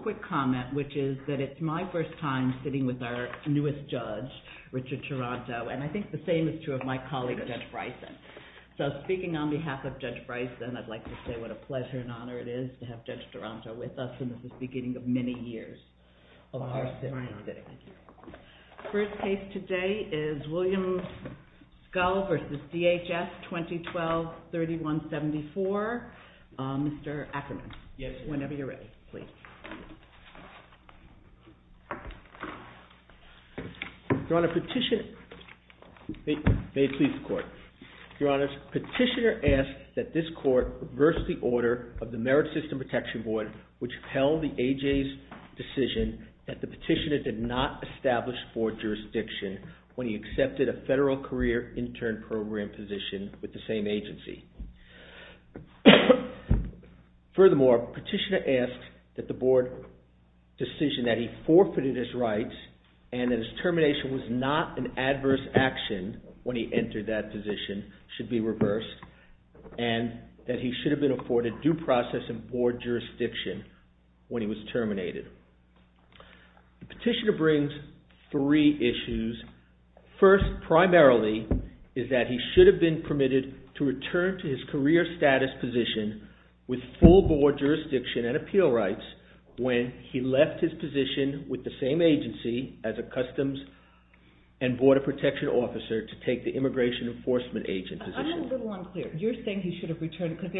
2012-3174. Mr. Ackerman, whenever you're ready, please. Your Honor, petitioner asked that this court reverse the order of the Merit System Protection Board, which held the AJ's decision that the petitioner did not establish board jurisdiction when he accepted a federal career intern program position with the same agency. Furthermore, petitioner asked that the board decision that he forfeited his rights and that his termination was not an adverse action when he entered that position should be reversed and that he should have been afforded due process and board jurisdiction when he was terminated. The petitioner brings three issues. First, primarily, is that he should have been permitted to return to his career status position with full board jurisdiction and appeal rights when he left his position with the same agency as a Customs and Border Protection Officer to take the Immigration Enforcement Agent position. I'm a little unclear. You're saying he should have returned because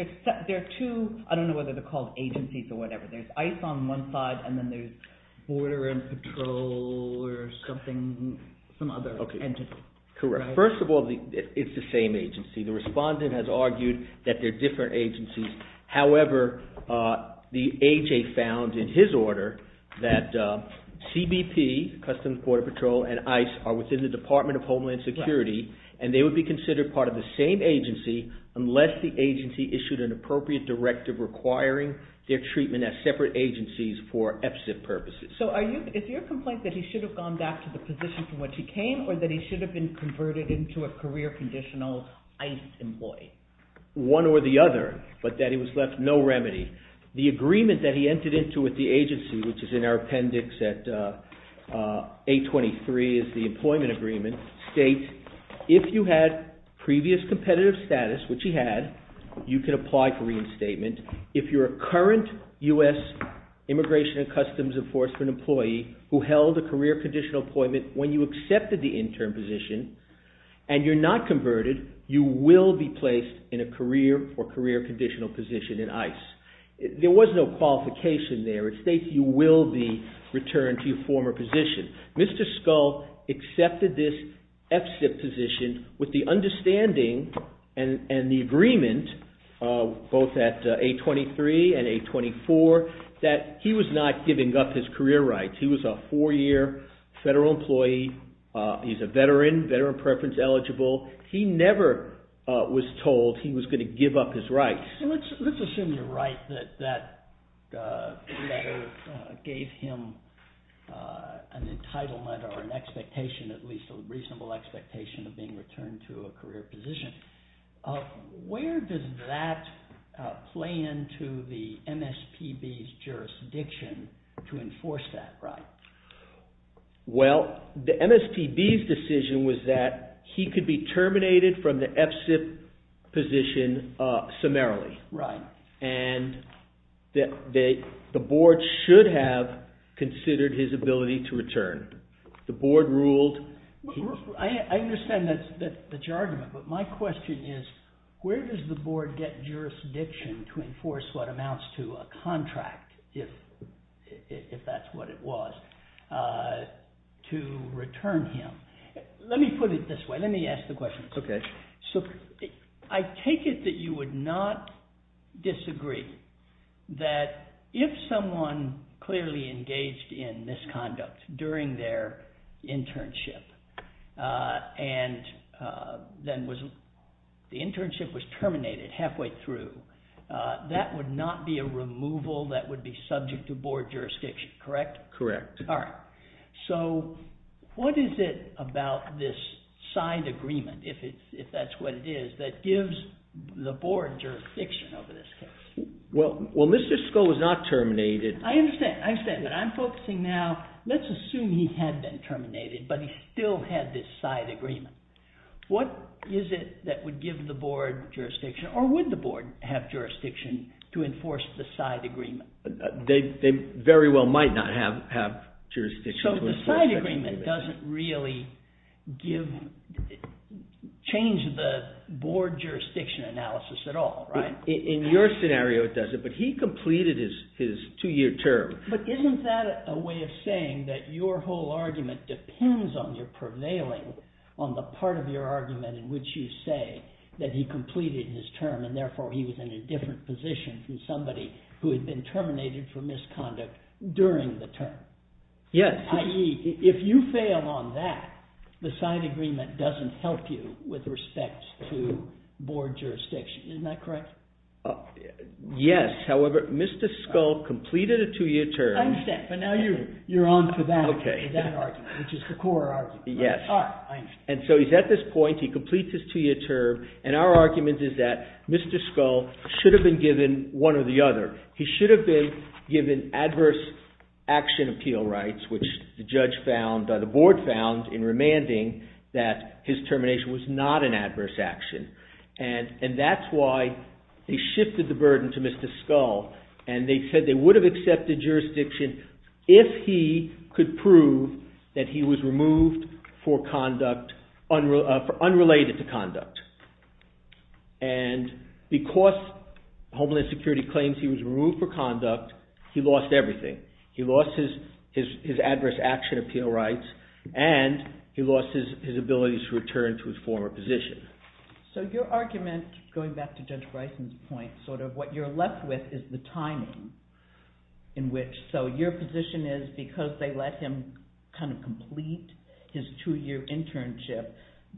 there are two, I don't know whether they're called agencies or whatever, there's ICE on one side and then there's Border and Patrol or something, some other entity. Correct. First of all, it's the same agency. The respondent has argued that they're different agencies. However, the AJ found in his order that CBP, Customs, Border Patrol, and ICE are within the Department of Homeland Security and they would be considered part of the same agency unless the agency issued an appropriate directive requiring their treatment as separate agencies for EPSA purposes. So is your complaint that he should have gone back to the position from which he came or that he should have been converted into a career conditional ICE employee? One or the other, but that he was left no remedy. The agreement that he entered into with the agency, which is in our appendix at 823, is the employment agreement, states if you had previous competitive status, which he had, you could apply for reinstatement. If you're a current U.S. Immigration and Customs Enforcement employee who held a career conditional employment when you accepted the intern position and you're not converted, you will be placed in a career or career conditional position in ICE. There was no qualification there. It states you will be returned to your former position. Mr. Scull accepted this F-CIP position with the understanding and the agreement, both at 823 and 824, that he was not giving up his career rights. He was a four-year federal employee. He's a veteran, veteran preference eligible. He never was told he was going to give up his rights. Let's assume you're right that that letter gave him an entitlement or an expectation, at least a reasonable expectation of being returned to a career position. Where does that play into the MSPB's jurisdiction to enforce that? The MSPB's decision was that he could be terminated from the F-CIP position summarily. Right. The board should have considered his ability to return. The board ruled... I understand that's your argument, but my question is, where does the board get jurisdiction to enforce what amounts to a contract, if that's what it was, to return him? Let me ask the question. I take it that you would not disagree that if someone clearly engaged in misconduct during their internship and then the internship was terminated halfway through, that would not be a removal that would be subject to board jurisdiction, correct? Correct. All right. What is it about this side agreement, if that's what it is, that gives the board jurisdiction over this case? Well, Mr. Scull was not terminated... I understand, but I'm focusing now, let's assume he had been terminated, but he still had this side agreement. What is it that would give the board jurisdiction, or would the board have jurisdiction to enforce the side agreement? They very well might not have jurisdiction to enforce the side agreement. So the side agreement doesn't really change the board jurisdiction analysis at all, right? In your scenario, it doesn't, but he completed his two-year term. But isn't that a way of saying that your whole argument depends on your prevailing on the part of your argument in which you say that he completed his term, and therefore he was in a different position from somebody who had been terminated for misconduct during the term. Yes. I.e., if you fail on that, the side agreement doesn't help you with respect to board jurisdiction. Isn't that correct? Yes. However, Mr. Scull completed a two-year term... I understand, but now you're on to that argument, which is the core argument. Yes. All right, I understand. And so he's at this point, he completes his two-year term, and our argument is that Mr. Scull should have been given one or the other. He should have been given adverse action appeal rights, which the board found in remanding that his termination was not an adverse action. And that's why they shifted the burden to Mr. Scull, and they said they would have accepted the jurisdiction if he could prove that he was removed for conduct, unrelated to conduct. And because Homeland Security claims he was removed for conduct, he lost everything. He lost his adverse action appeal rights, and he lost his ability to return to his former position. So your argument, going back to Judge Bryson's point, sort of what you're left with is the timing in which... So your position is, because they let him kind of complete his two-year internship,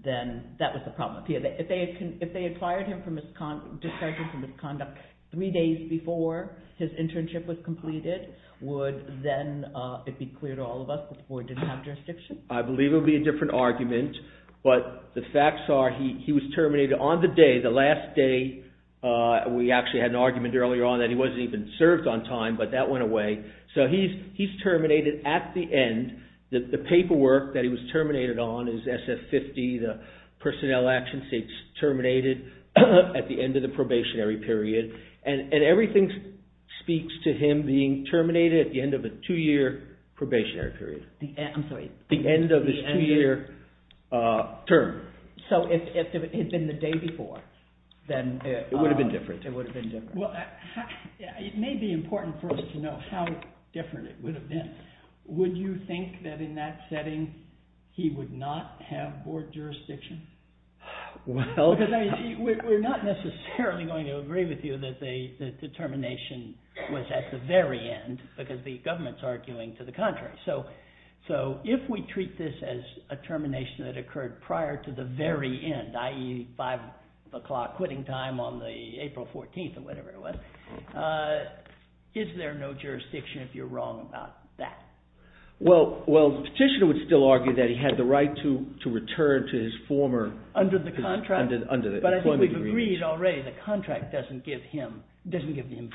then that was the problem. If they had fired him for misconduct, three days before his internship was completed, would then it be clear to all of us that the board didn't have jurisdiction? I believe it would be a different argument. But the facts are he was terminated on the day, the last day. We actually had an argument earlier on that he wasn't even served on time, but that went away. So he's terminated at the end. The paperwork that he was terminated on is SF-50, the personnel action states terminated at the end of the probationary period. And everything speaks to him being terminated at the end of a two-year probationary period. I'm sorry. The end of his two-year term. So if it had been the day before, then it would have been different. It may be important for us to know how different it would have been. Would you think that in that setting, he would not have board jurisdiction? Well... Because we're not necessarily going to agree with you that the termination was at the very end, because the government's arguing to the contrary. So if we treat this as a termination that occurred prior to the very end, i.e. 5 o'clock quitting time on the April 14th or whatever it was, is there no jurisdiction if you're wrong about that? Well, the petitioner would still argue that he had the right to return to his former... Under the contract? Under the employment agreement. But I think we've agreed already the contract doesn't give him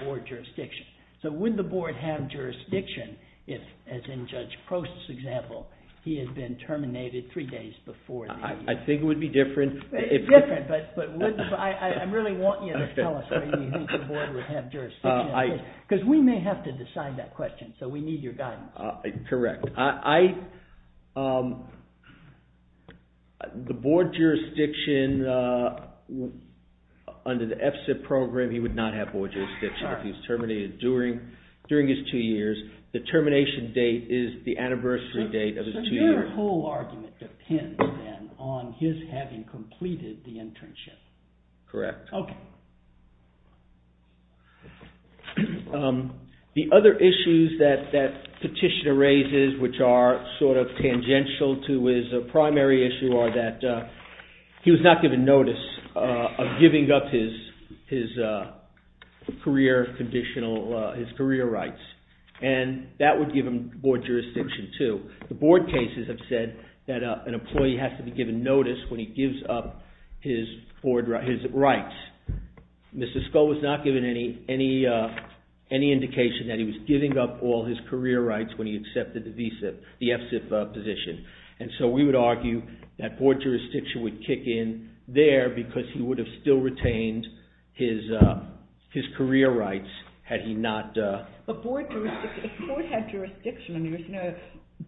board jurisdiction. So would the board have jurisdiction if, as in Judge Prost's example, he had been terminated three days before the... I think it would be different if... It's different, but I really want you to tell us how you think the board would have jurisdiction on this, because we may have to decide that question, so we need your guidance. Correct. The board jurisdiction under the F-CIP program, he would not have board jurisdiction if he was terminated during his two years. The termination date is the anniversary date of his two years. So their whole argument depends, then, on his having completed the internship. Correct. Okay. The other issues that that petitioner raises, which are sort of tangential to his primary issue, are that he was not given notice of giving up his career rights. And that would give him board jurisdiction, too. The board cases have said that an employee has to be given notice when he gives up his rights. Mr. Scull was not given any indication that he was giving up all his career rights when he accepted the F-CIP position. And so we would argue that board jurisdiction would kick in there, because he would have still retained his career rights had he not... But if the board had jurisdiction,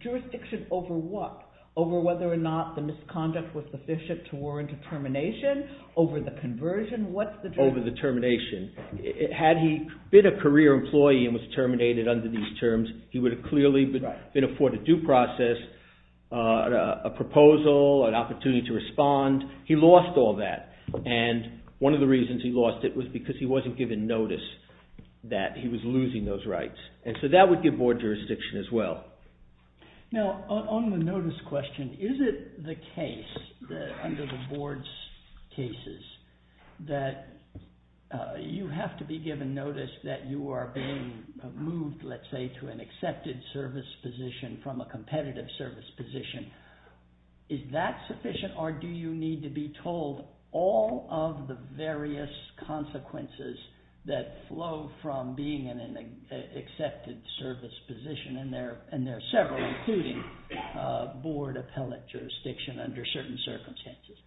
jurisdiction over what? Over whether or not the misconduct was sufficient to warrant a termination? Over the conversion? Over the termination. Had he been a career employee and was terminated under these terms, he would have clearly been afforded due process, a proposal, an opportunity to respond. He lost all that. And one of the reasons he lost it was because he wasn't given notice that he was losing those rights. And so that would give board jurisdiction as well. Now, on the notice question, is it the case that under the board's cases that you have to be given notice that you are being moved, let's say, to an accepted service position from a competitive service position, is that sufficient or do you need to be told all of the various consequences that flow from being in an accepted service position? And there are several, including board appellate jurisdiction under certain circumstances.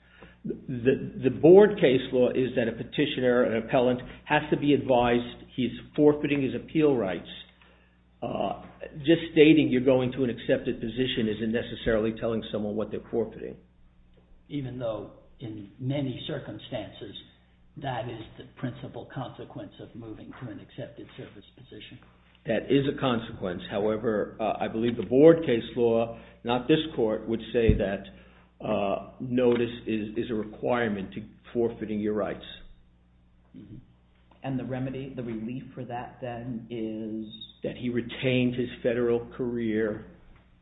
The board case law is that a petitioner, an appellant, has to be advised he's forfeiting his appeal rights. Just stating you're going to an accepted position isn't necessarily telling someone what they're forfeiting. Even though, in many circumstances, that is the principal consequence of moving to an accepted service position. That is a consequence. However, I believe the board case law, not this court, would say that notice is a requirement to forfeiting your rights. And the remedy, the relief for that, then, is? That he retains his federal career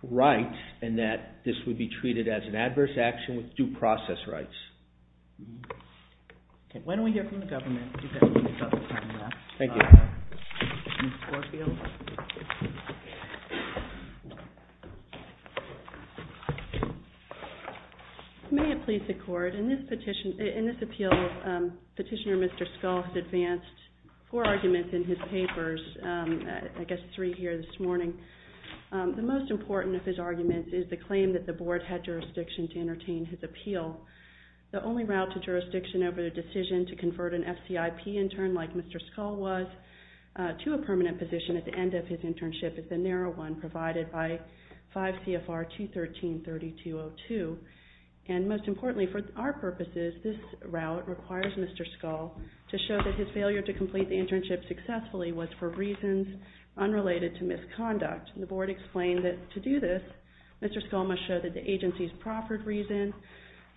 rights and that this would be treated as an adverse action with due process rights. Okay. Why don't we hear from the government? Thank you. May it please the court, in this appeal, Petitioner Mr. Scull has advanced four arguments in his papers, I guess three here this morning. The most important of his arguments is the claim that the board had jurisdiction to entertain his appeal. The only route to jurisdiction over the decision to convert an FCIP intern, like Mr. Scull was, to a permanent position at the end of his internship is the narrow one provided by 5 CFR 213-3202. And most importantly, for our purposes, this route requires Mr. Scull to show that his failure to complete the internship successfully was for reasons unrelated to misconduct. The board explained that to do this, Mr. Scull must show that the agency's proffered reasons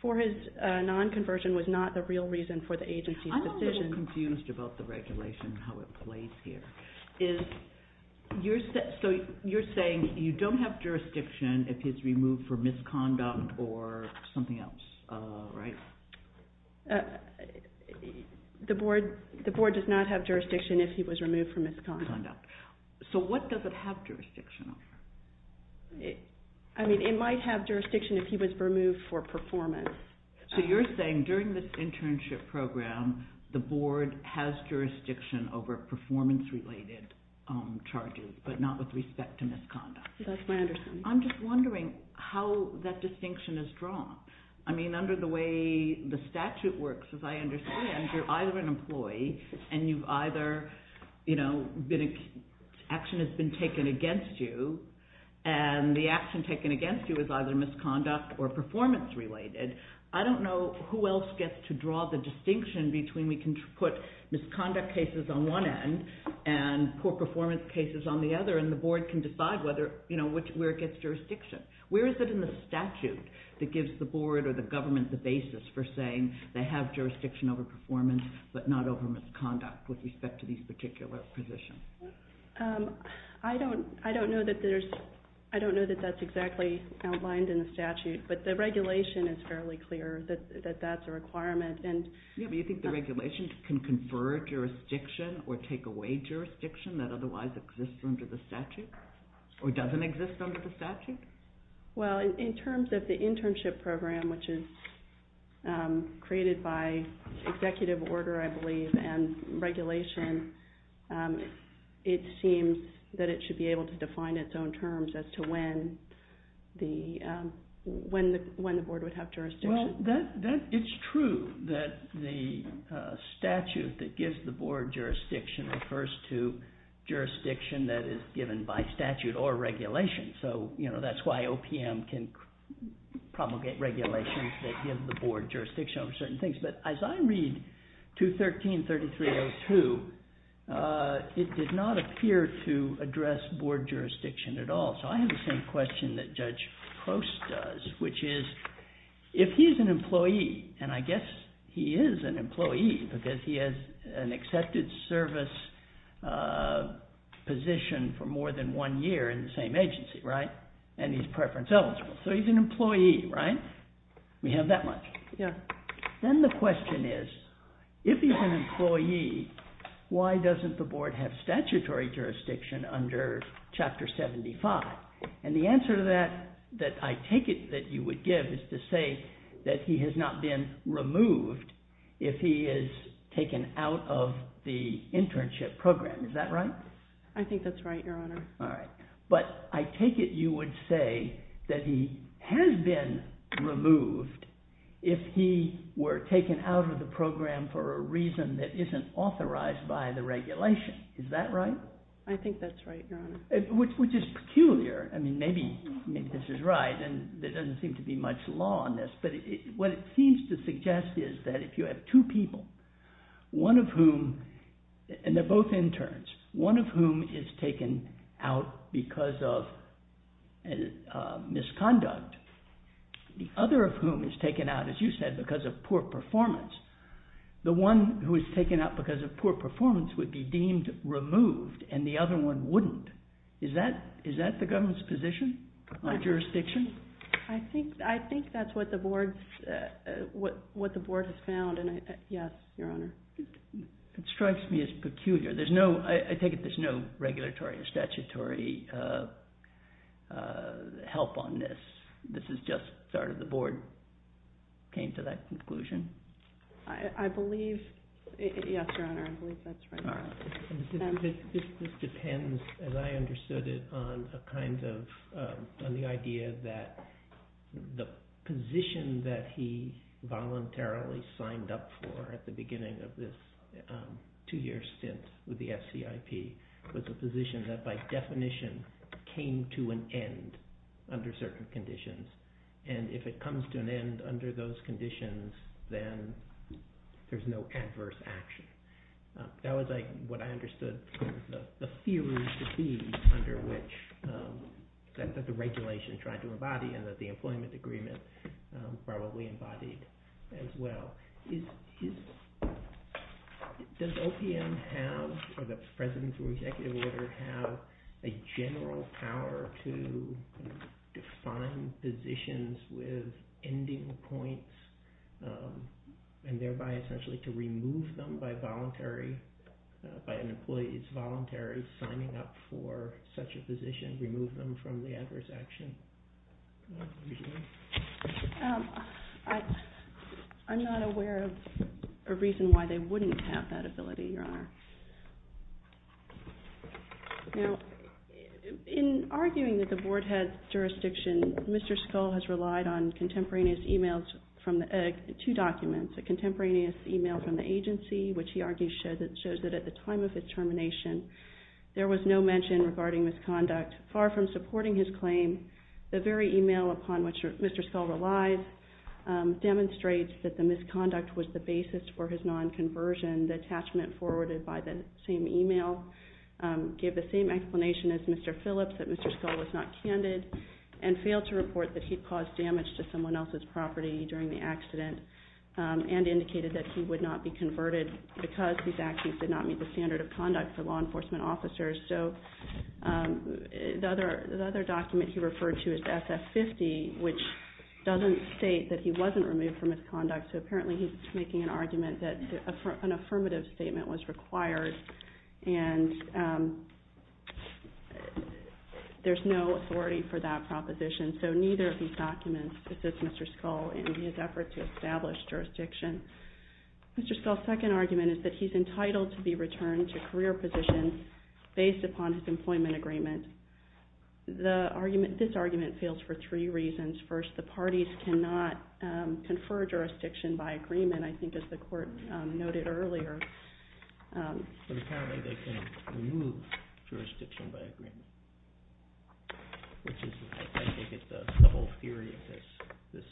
for his non-conversion was not the real reason for the agency's decision. I'm a little confused about the regulation and how it plays here. So you're saying you don't have jurisdiction if he's removed for misconduct or something else, right? The board does not have jurisdiction if he was removed for misconduct. So what does it have jurisdiction of? I mean, it might have jurisdiction if he was removed for performance. So you're saying during this internship program, the board has jurisdiction over performance related charges, but not with respect to misconduct. That's my understanding. I'm just wondering how that distinction is drawn. I mean, under the way the statute works, as I understand, you're either an employee and you've either, you know, action has been taken against you and the action taken against you is either misconduct or performance related. I don't know who else gets to draw the distinction between we can put misconduct cases on one end and poor performance cases on the other and the board can decide whether, you know, where it gets jurisdiction. Where is it in the statute that gives the board or the government the basis for saying they have jurisdiction over performance but not over misconduct with respect to these particular positions? I don't know that there's... I don't know that that's exactly outlined in the statute, but the regulation is fairly clear that that's a requirement and... Yeah, but you think the regulation can confer jurisdiction or take away jurisdiction that Or doesn't exist under the statute? Well, in terms of the internship program, which is created by executive order, I believe, and regulation, it seems that it should be able to define its own terms as to when the when the board would have jurisdiction. Well, that... It's true that the statute that gives the board jurisdiction refers to jurisdiction that is given by statute or regulation. So, you know, that's why OPM can promulgate regulations that give the board jurisdiction over certain things. But as I read 213-3302, it did not appear to address board jurisdiction at all. So I have the same question that Judge Post does, which is, if he's an employee, and I position for more than one year in the same agency, right? And he's preference eligible. So he's an employee, right? We have that much. Yeah. Then the question is, if he's an employee, why doesn't the board have statutory jurisdiction under Chapter 75? And the answer to that, that I take it that you would give is to say that he has not been removed if he is taken out of the internship program. Is that right? I think that's right, Your Honor. All right. But I take it you would say that he has been removed if he were taken out of the program for a reason that isn't authorized by the regulation. Is that right? I think that's right, Your Honor. Which is peculiar. I mean, maybe this is right, and there doesn't seem to be much law on this. But what it seems to suggest is that if you have two people, one of whom... One of whom is taken out because of misconduct. The other of whom is taken out, as you said, because of poor performance. The one who is taken out because of poor performance would be deemed removed, and the other one wouldn't. Is that the government's position on jurisdiction? I think that's what the board has found. Yes, Your Honor. It strikes me as peculiar. I take it there's no regulatory or statutory help on this. This is just... The board came to that conclusion? I believe... Yes, Your Honor. I believe that's right. All right. This depends, as I understood it, on the idea that the position that he voluntarily signed up for at the beginning of this two-year stint with the FCIP was a position that by definition came to an end under certain conditions. And if it comes to an end under those conditions, then there's no adverse action. That was what I understood the theory to be under which the regulation tried to embody and that the employment agreement probably embodied as well. Does OPM have, or the President's Executive Order, have a general power to define positions with ending points and thereby essentially to remove them by voluntary, by an employee's voluntary signing up for such a position, remove them from the adverse action? I'm not aware of a reason why they wouldn't have that ability, Your Honor. Now, in arguing that the board has jurisdiction, Mr. Scull has relied on contemporaneous emails from the... Two documents, a contemporaneous email from the agency, which he argues shows that at the time of its termination, there was no mention regarding misconduct. Far from supporting his claim, the very email upon which Mr. Scull relies demonstrates that the misconduct was the basis for his non-conversion. The attachment forwarded by the same email gave the same explanation as Mr. Phillips, that Mr. Scull was not candid and failed to report that he'd caused damage to someone else's property during the accident and indicated that he would not be converted because these actions did not meet the standard of conduct for law enforcement officers. So the other document he referred to is SF-50, which doesn't state that he wasn't removed for misconduct, so apparently he's making an argument that an affirmative statement was required and there's no authority for that proposition. So neither of these documents assist Mr. Scull in his effort to establish jurisdiction. Mr. Scull's second argument is that he's entitled to be returned to career positions based upon his employment agreement. This argument fails for three reasons. First, the parties cannot confer jurisdiction by agreement, I think as the court noted earlier. But apparently they can remove jurisdiction by agreement, which I think is the whole theory of this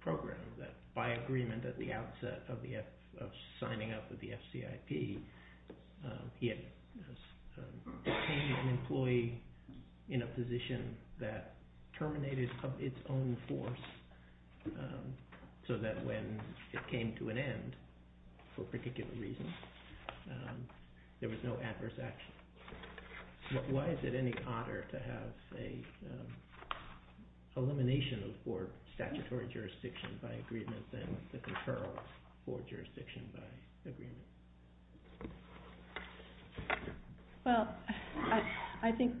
program, that by agreement at the outset of signing up with the FCIP, he had obtained an employee in a position that terminated of its own force, so that when it came to an end, for particular reasons, there was no adverse action. Why is it any odder to have an elimination of board statutory jurisdiction by agreement than the conferral of board jurisdiction by agreement? Well, I think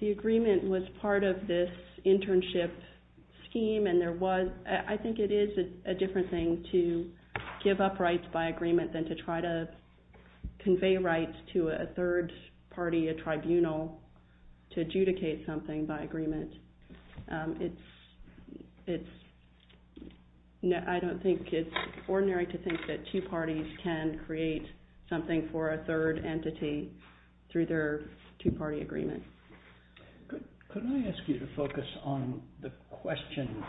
the agreement was part of this internship scheme, and I think it is a different thing to give up rights by agreement than to try to convey rights to a third party, a tribunal, to adjudicate something by agreement. I don't think it's ordinary to think that two parties can create something for a third entity through their two-party agreement. Could I ask you to focus on the question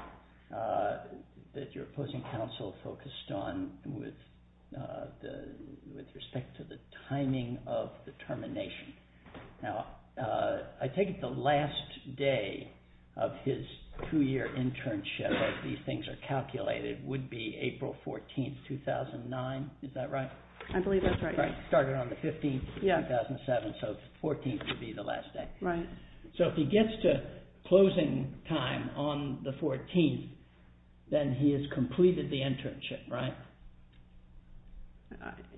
that your opposing counsel focused on with respect to the timing of the termination? Now, I take it the last day of his two-year internship, as these things are calculated, would be April 14, 2009, is that right? I believe that's right. Started on the 15th, 2007, so the 14th would be the last day. Right. So if he gets to closing time on the 14th, then he has completed the internship, right?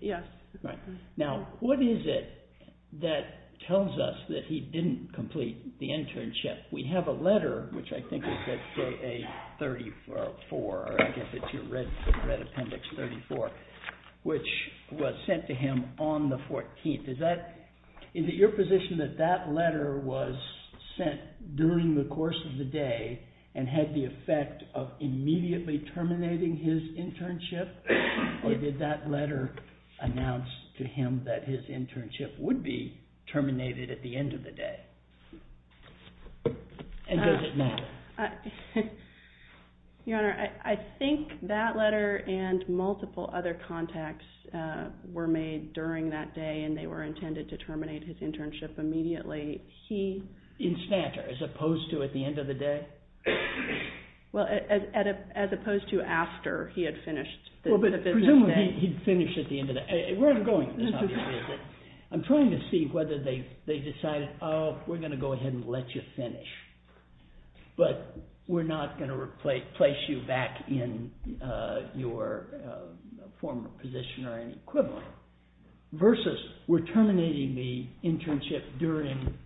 Yes. Right. Now, what is it that tells us that he didn't complete the internship? We have a letter, which I think is at J.A. 34, or I guess it's your red appendix, 34, which was sent to him on the 14th. Is it your position that that letter was sent during the course of the day and had the effect of immediately terminating his internship? Or did that letter announce to him that his internship would be terminated at the end of the day? And does it matter? Your Honor, I think that letter and multiple other contacts were made during that day and they were intended to terminate his internship immediately. In Snatter, as opposed to at the end of the day? Well, as opposed to after he had finished the business day. Well, but presumably he'd finish at the end of the day. Where I'm going is, obviously, I'm trying to see whether they decided, oh, we're going to go ahead and let you finish. But we're not going to place you back in your former position or any equivalent. Versus, we're terminating the internship during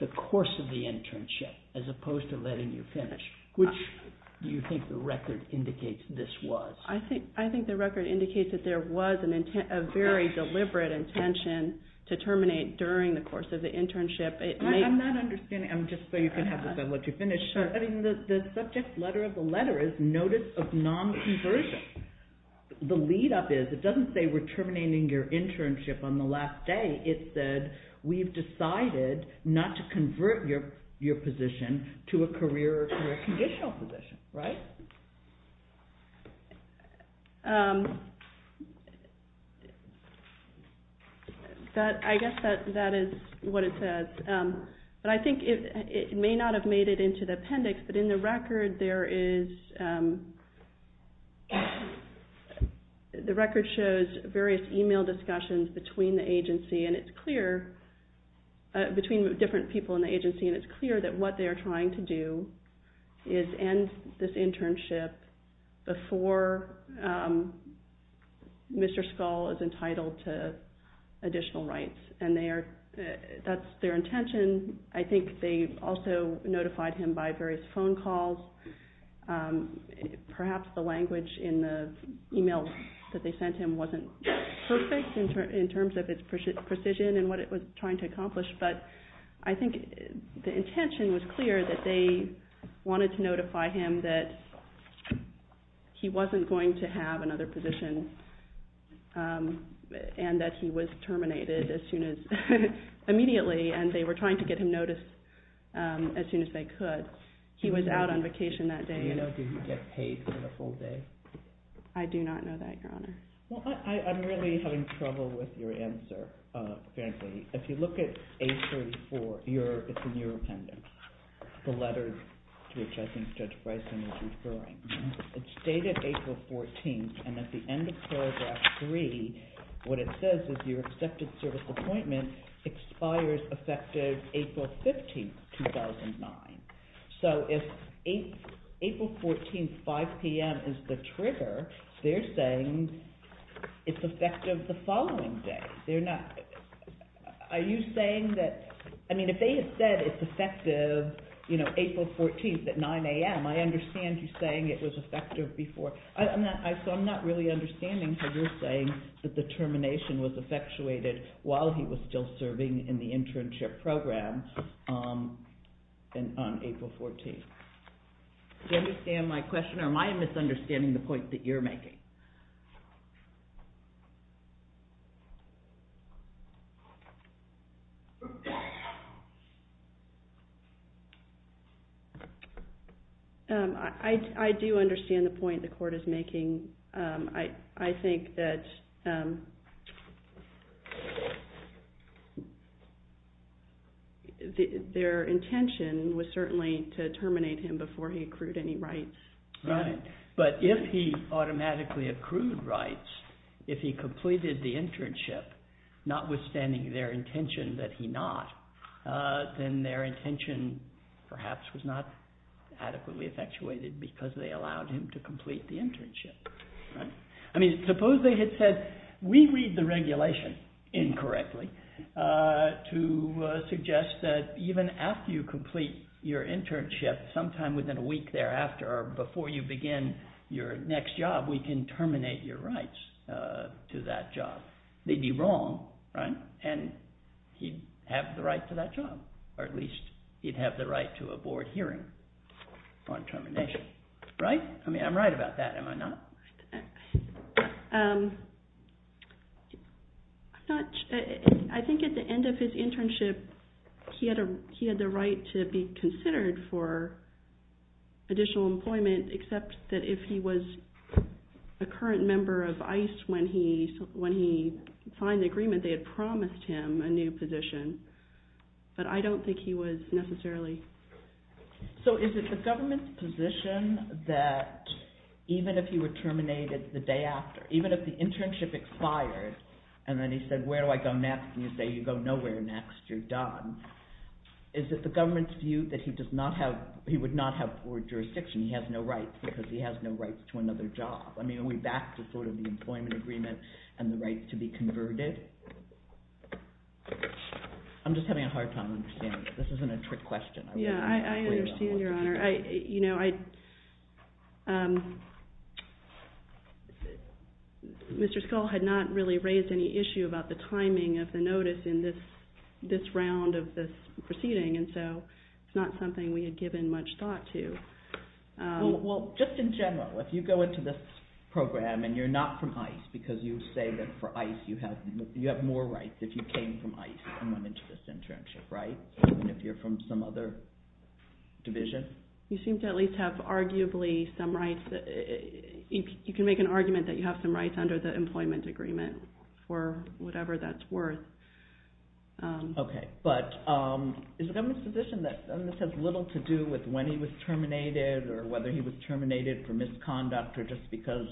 the course of the internship as opposed to letting you finish. Which do you think the record indicates this was? I think the record indicates that there was a very deliberate intention to terminate during the course of the internship. I'm not understanding. Just so you can have this, I'll let you finish. The subject letter of the letter is notice of non-conversion. The lead-up is, it doesn't say we're terminating your internship on the last day. It said, we've decided not to convert your position to a career or conditional position. Right? I guess that is what it says. But I think it may not have made it into the appendix, but in the record there is, the record shows various email discussions between the agency, and it's clear, between different people in the agency, and it's clear that what they are trying to do is end this internship before Mr. Scull is entitled to additional rights. And that's their intention. I think they also notified him by various phone calls. Perhaps the language in the email that they sent him wasn't perfect in terms of its precision and what it was trying to accomplish, but I think the intention was clear that they wanted to notify him that he wasn't going to have another position, and that he was terminated immediately, and they were trying to get him noticed as soon as they could. He was out on vacation that day. Do you know if he would get paid for the full day? I do not know that, Your Honor. Well, I'm really having trouble with your answer, apparently. If you look at page 34, it's in your appendix, the letter to which I think Judge Bryson is referring. It's dated April 14th, and at the end of paragraph 3, what it says is your accepted service appointment expires effective April 15th, 2009. So if April 14th, 5 p.m. is the trigger, they're saying it's effective the following day. They're not... Are you saying that... I mean, if they had said it's effective April 14th at 9 a.m., I understand you saying it was effective before... So I'm not really understanding how you're saying that the termination was effectuated while he was still serving in the internship program on April 14th. Do you understand my question, or am I misunderstanding the point that you're making? I do understand the point the court is making. I think that... their intention was certainly to terminate him before he accrued any rights. Right, but if he automatically accrued rights, if he completed the internship, notwithstanding their intention that he not, then their intention perhaps was not adequately effectuated because they allowed him to complete the internship. I mean, suppose they had said, we read the regulation incorrectly to suggest that even after you complete your internship, sometime within a week thereafter or before you begin your next job, we can terminate your rights to that job. They'd be wrong, right? And he'd have the right to that job, or at least he'd have the right to a board hearing on termination. Right? I mean, I'm right about that, am I not? I think at the end of his internship, he had the right to be considered for additional employment except that if he was a current member of ICE when he signed the agreement, they had promised him a new position, but I don't think he was necessarily. So is it the government's position that even if he were terminated the day after, even if the internship expired, and then he said, where do I go next? And you say, you go nowhere next, you're done. Is it the government's view that he does not have, he would not have board jurisdiction, he has no rights because he has no rights to another job? I mean, are we back to sort of the employment agreement and the right to be converted? I'm just having a hard time understanding this. This isn't a trick question. Yeah, I understand, Your Honor. Mr. Scull had not really raised any issue about the timing of the notice in this round of this proceeding, and so it's not something we had given much thought to. Well, just in general, if you go into this program and you're not from ICE, because you say that for ICE you have more rights if you came from ICE and went into this internship, right? Even if you're from some other division? You seem to at least have arguably some rights. You can make an argument that you have some rights under the employment agreement, or whatever that's worth. Okay, but is the government's position that this has little to do with when he was terminated or whether he was terminated for misconduct or just because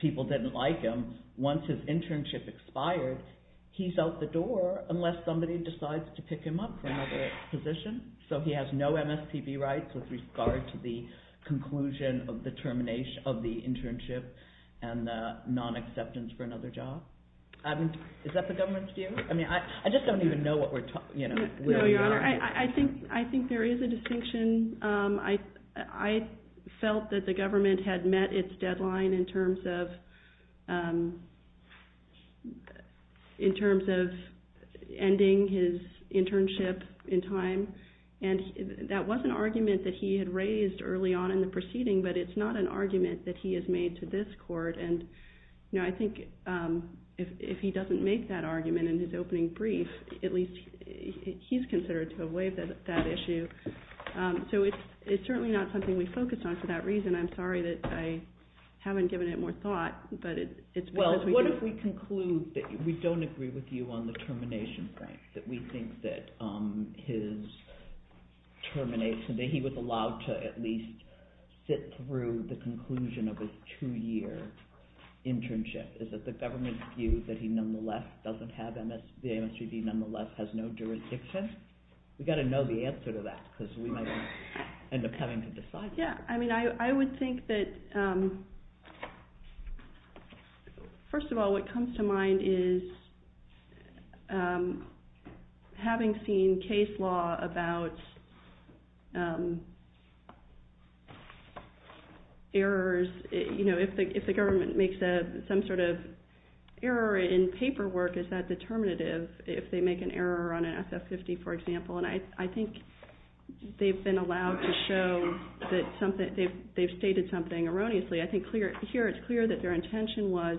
people didn't like him, once his internship expired, he's out the door unless somebody decides to pick him up for another position? So he has no MSPB rights with regard to the conclusion of the termination of the internship and the non-acceptance for another job? Is that the government's view? I mean, I just don't even know what we're talking about. No, Your Honor. I think there is a distinction. I felt that the government had met its deadline in terms of ending his internship in time. And that was an argument that he had raised early on in the proceeding, but it's not an argument that he has made to this court. And I think if he doesn't make that argument in his opening brief, at least he's considered to have waived that issue. So it's certainly not something we focus on for that reason. I'm sorry that I haven't given it more thought. Well, what if we conclude that we don't agree with you on the termination point, that we think that his termination, that he was allowed to at least sit through the conclusion of his two-year internship? Is it the government's view that the MSPB nonetheless has no jurisdiction? We've got to know the answer to that, because we might end up having to decide that. Yeah. I mean, I would think that, first of all, what comes to mind is, having seen case law about errors, if the government makes some sort of error in paperwork, is that determinative? If they make an error on an SF-50, for example. And I think they've been allowed to show that they've stated something erroneously. I think here it's clear that their intention was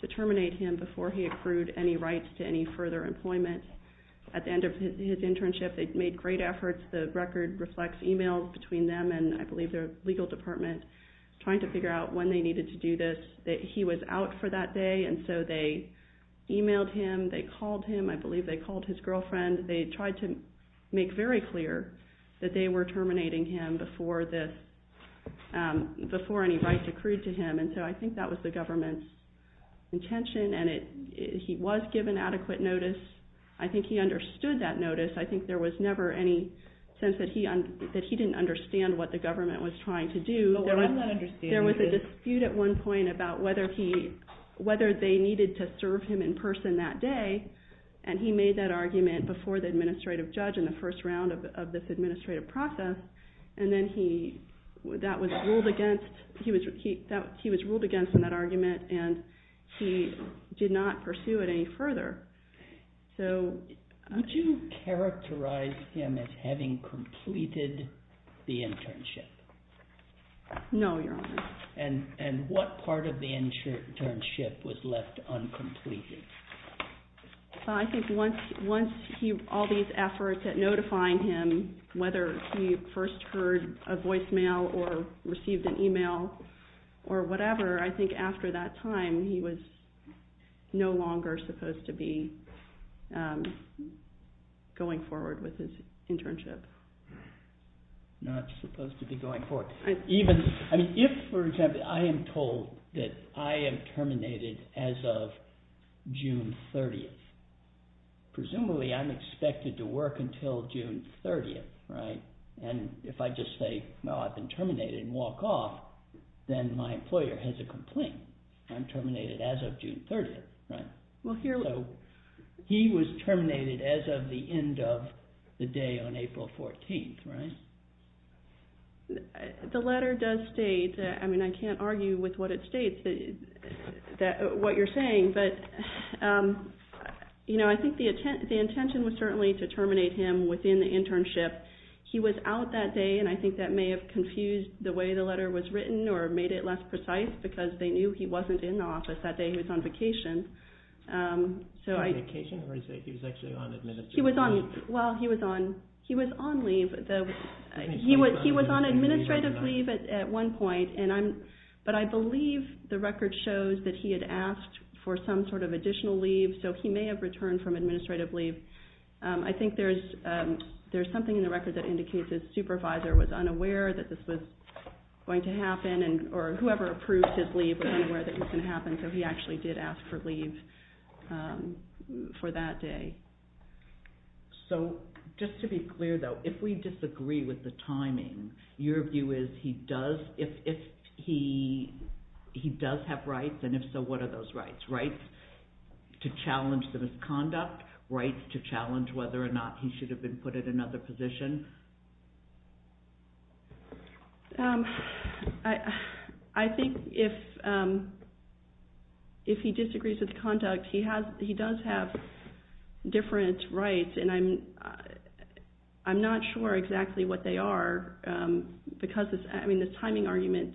to terminate him before he accrued any rights to any further employment. At the end of his internship, they made great efforts. The record reflects emails between them and, I believe, their legal department, trying to figure out when they needed to do this. He was out for that day. And so they emailed him. I believe they called his girlfriend. They tried to make very clear that they were terminating him before any rights accrued to him. And so I think that was the government's intention. And he was given adequate notice. I think he understood that notice. I think there was never any sense that he didn't understand what the government was trying to do. But what I'm not understanding is. There was a dispute at one point about whether they needed to serve him in person that day. And he made that argument before the administrative judge in the first round of this administrative process. And then he was ruled against in that argument. And he did not pursue it any further. Would you characterize him as having completed the internship? No, Your Honor. And what part of the internship was left uncompleted? I think once all these efforts at notifying him, whether he first heard a voicemail or received an email or whatever, I think after that time, he was no longer supposed to be going forward with his internship. Not supposed to be going forward. If, for example, I am told that I am terminated as of June 30. Presumably, I'm expected to work until June 30. And if I just say, no, I've been terminated and walk off, then my employer has a complaint. I'm terminated as of June 30. He was terminated as of the end of the day on April 14. The letter does state, I mean, I can't argue with what it states, what you're saying, but I think the intention was certainly to terminate him within the internship. He was out that day, and I think that may have confused the way the letter was written or made it less precise, because they knew he wasn't in the office that day. He was on vacation. On vacation? Or he was actually on administrative leave? Well, he was on leave. He was on administrative leave at one point, but I believe the record shows that he had asked for some sort of additional leave, so he may have returned from administrative leave. I think there's something in the record that indicates his supervisor was unaware that this was going to happen, or whoever approved his leave was unaware that this was going to happen, so he actually did ask for leave for that day. So just to be clear, though, if we disagree with the timing, your view is he does have rights, and if so, what are those rights? Rights to challenge the misconduct? Rights to challenge whether or not he should have been put in another position? I think if he disagrees with conduct, he does have different rights, and I'm not sure exactly what they are, because this timing argument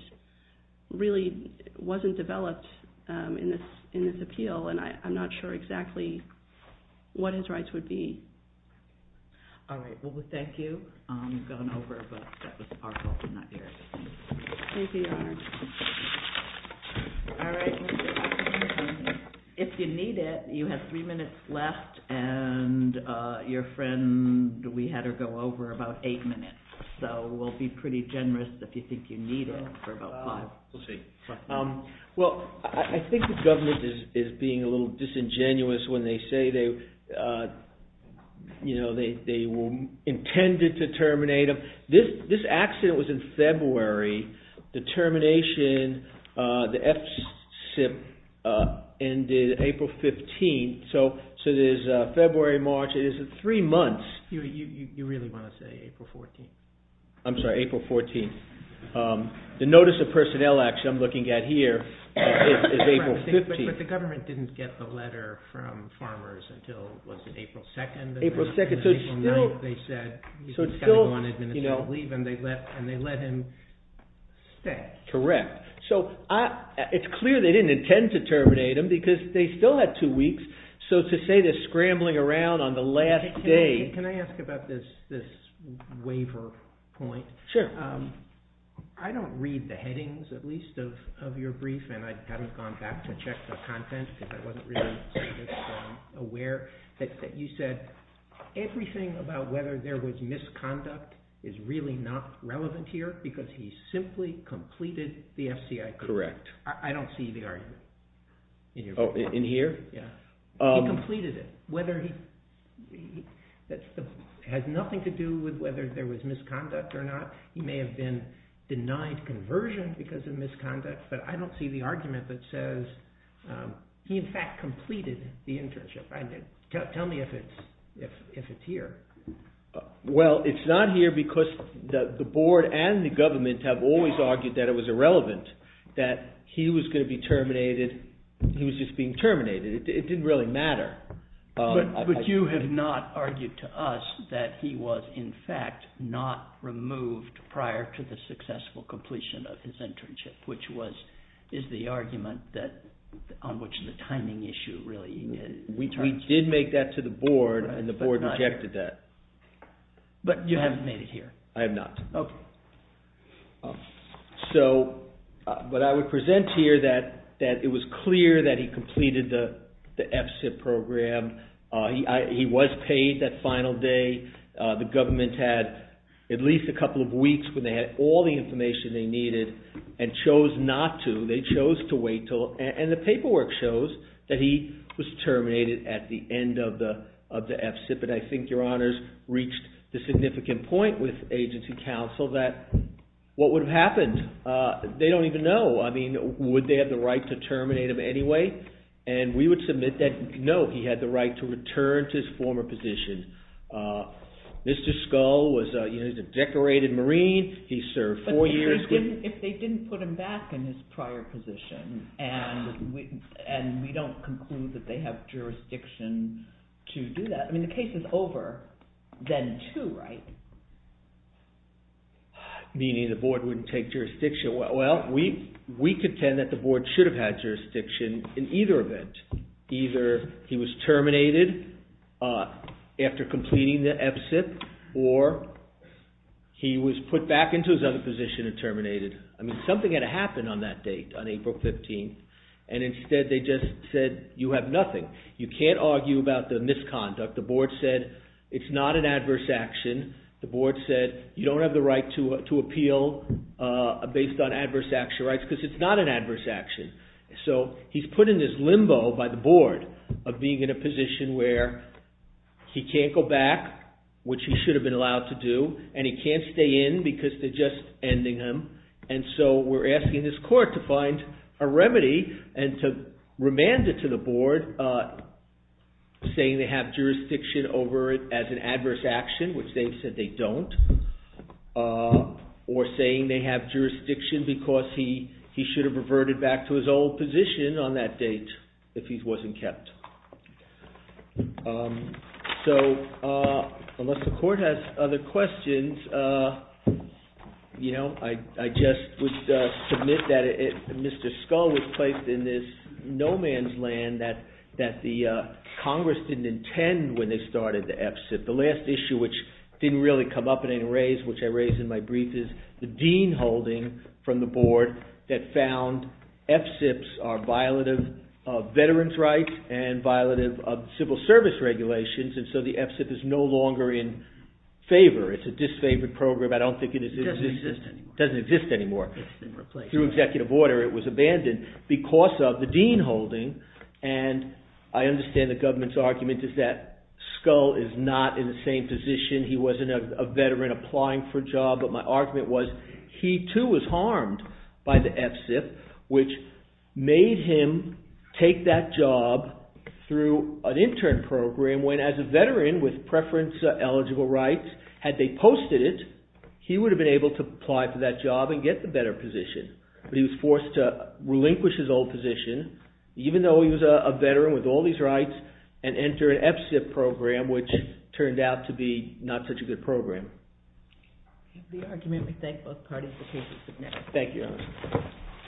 really wasn't developed in this appeal, and I'm not sure exactly what his rights would be. All right. Well, we thank you. We've gone over, but that was our hope in that area. Thank you, Your Honor. All right. If you need it, you have three minutes left, and your friend, we had her go over about eight minutes, so we'll be pretty generous if you think you need it for about five. We'll see. Well, I think the government is being a little disingenuous when they say they intended to terminate him. This accident was in February. The termination, the F-SIP, ended April 15th, so it is February, March. It is three months. You really want to say April 14th? I'm sorry, April 14th. The notice of personnel action I'm looking at here is April 15th. But the government didn't get the letter from Farmers until, was it April 2nd? April 2nd. So still, so still, you know. And they let him stay. Correct. So it's clear they didn't intend to terminate him because they still had two weeks. So to say they're scrambling around on the last day. Can I ask about this waiver point? Sure. I don't read the headings, at least, of your brief, and I haven't gone back to check the content because I wasn't really aware that you said everything about whether there was misconduct is really not relevant here because he simply completed the FCI. Correct. I don't see the argument. Oh, in here? Yeah. He completed it. Whether he, that has nothing to do with whether there was misconduct or not. He may have been denied conversion because of misconduct, but I don't see the argument that says he in fact completed the internship. Tell me if it's here. Well, it's not here because the board and the government have always argued that it was irrelevant, that he was going to be terminated, he was just being terminated. It didn't really matter. But you have not argued to us that he was in fact not removed prior to the successful completion of his internship, which is the argument on which the timing issue really... We did make that to the board and the board rejected that. But you haven't made it here. I have not. Okay. So, but I would present here that it was clear that he completed the F-CIP program. He was paid that final day. The government had at least a couple of weeks when they had all the information they needed and chose not to, they chose to wait till... And the paperwork shows that he was terminated at the end of the F-CIP. And I think your honors reached the significant point with agency counsel that what would have happened? They don't even know. I mean, would they have the right to terminate him anyway? And we would submit that no, he had the right to return to his former position. Mr. Scull was a decorated Marine. He served four years. But if they didn't put him back in his prior position and we don't conclude that they have jurisdiction to do that, I mean, the case is over then too, right? Meaning the board wouldn't take jurisdiction. Well, we contend that the board should have had jurisdiction in either event. Either he was terminated after completing the F-CIP or he was put back into his other position and terminated. I mean, something had to happen on that date, on April 15th, and instead they just said you have nothing. You can't argue about the misconduct. The board said it's not an adverse action. The board said you don't have the right to appeal based on adverse action rights because it's not an adverse action. So he's put in this limbo by the board of being in a position where he can't go back, which he should have been allowed to do, and he can't stay in because they're just ending him. And so we're asking this court to find a remedy and to remand it to the board, saying they have jurisdiction over it as an adverse action, which they've said they don't, or saying they have jurisdiction because he should have reverted back to his old position on that date if he wasn't kept. So unless the court has other questions, I just would submit that Mr. Scull was placed in this no-man's land that the Congress didn't intend when they started the F-CIP. The last issue which didn't really come up in any way, which I raised in my brief, is the Dean holding from the board that found F-CIPs are violative of veterans' rights and violative of civil service regulations, and so the F-CIP is no longer in favor. It's a disfavored program. I don't think it exists. It doesn't exist anymore. It doesn't exist anymore. It's been replaced. Through executive order, it was abandoned because of the Dean holding, and I understand the government's argument is that Scull is not in the same position. He wasn't a veteran applying for a job, but my argument was he too was harmed by the F-CIP, which made him take that job through an intern program when, as a veteran with preference-eligible rights, had they posted it, he would have been able to apply for that job and get the better position, but he was forced to relinquish his old position, even though he was a veteran with all these rights, and enter an F-CIP program, which turned out to be not such a good program. Thank you.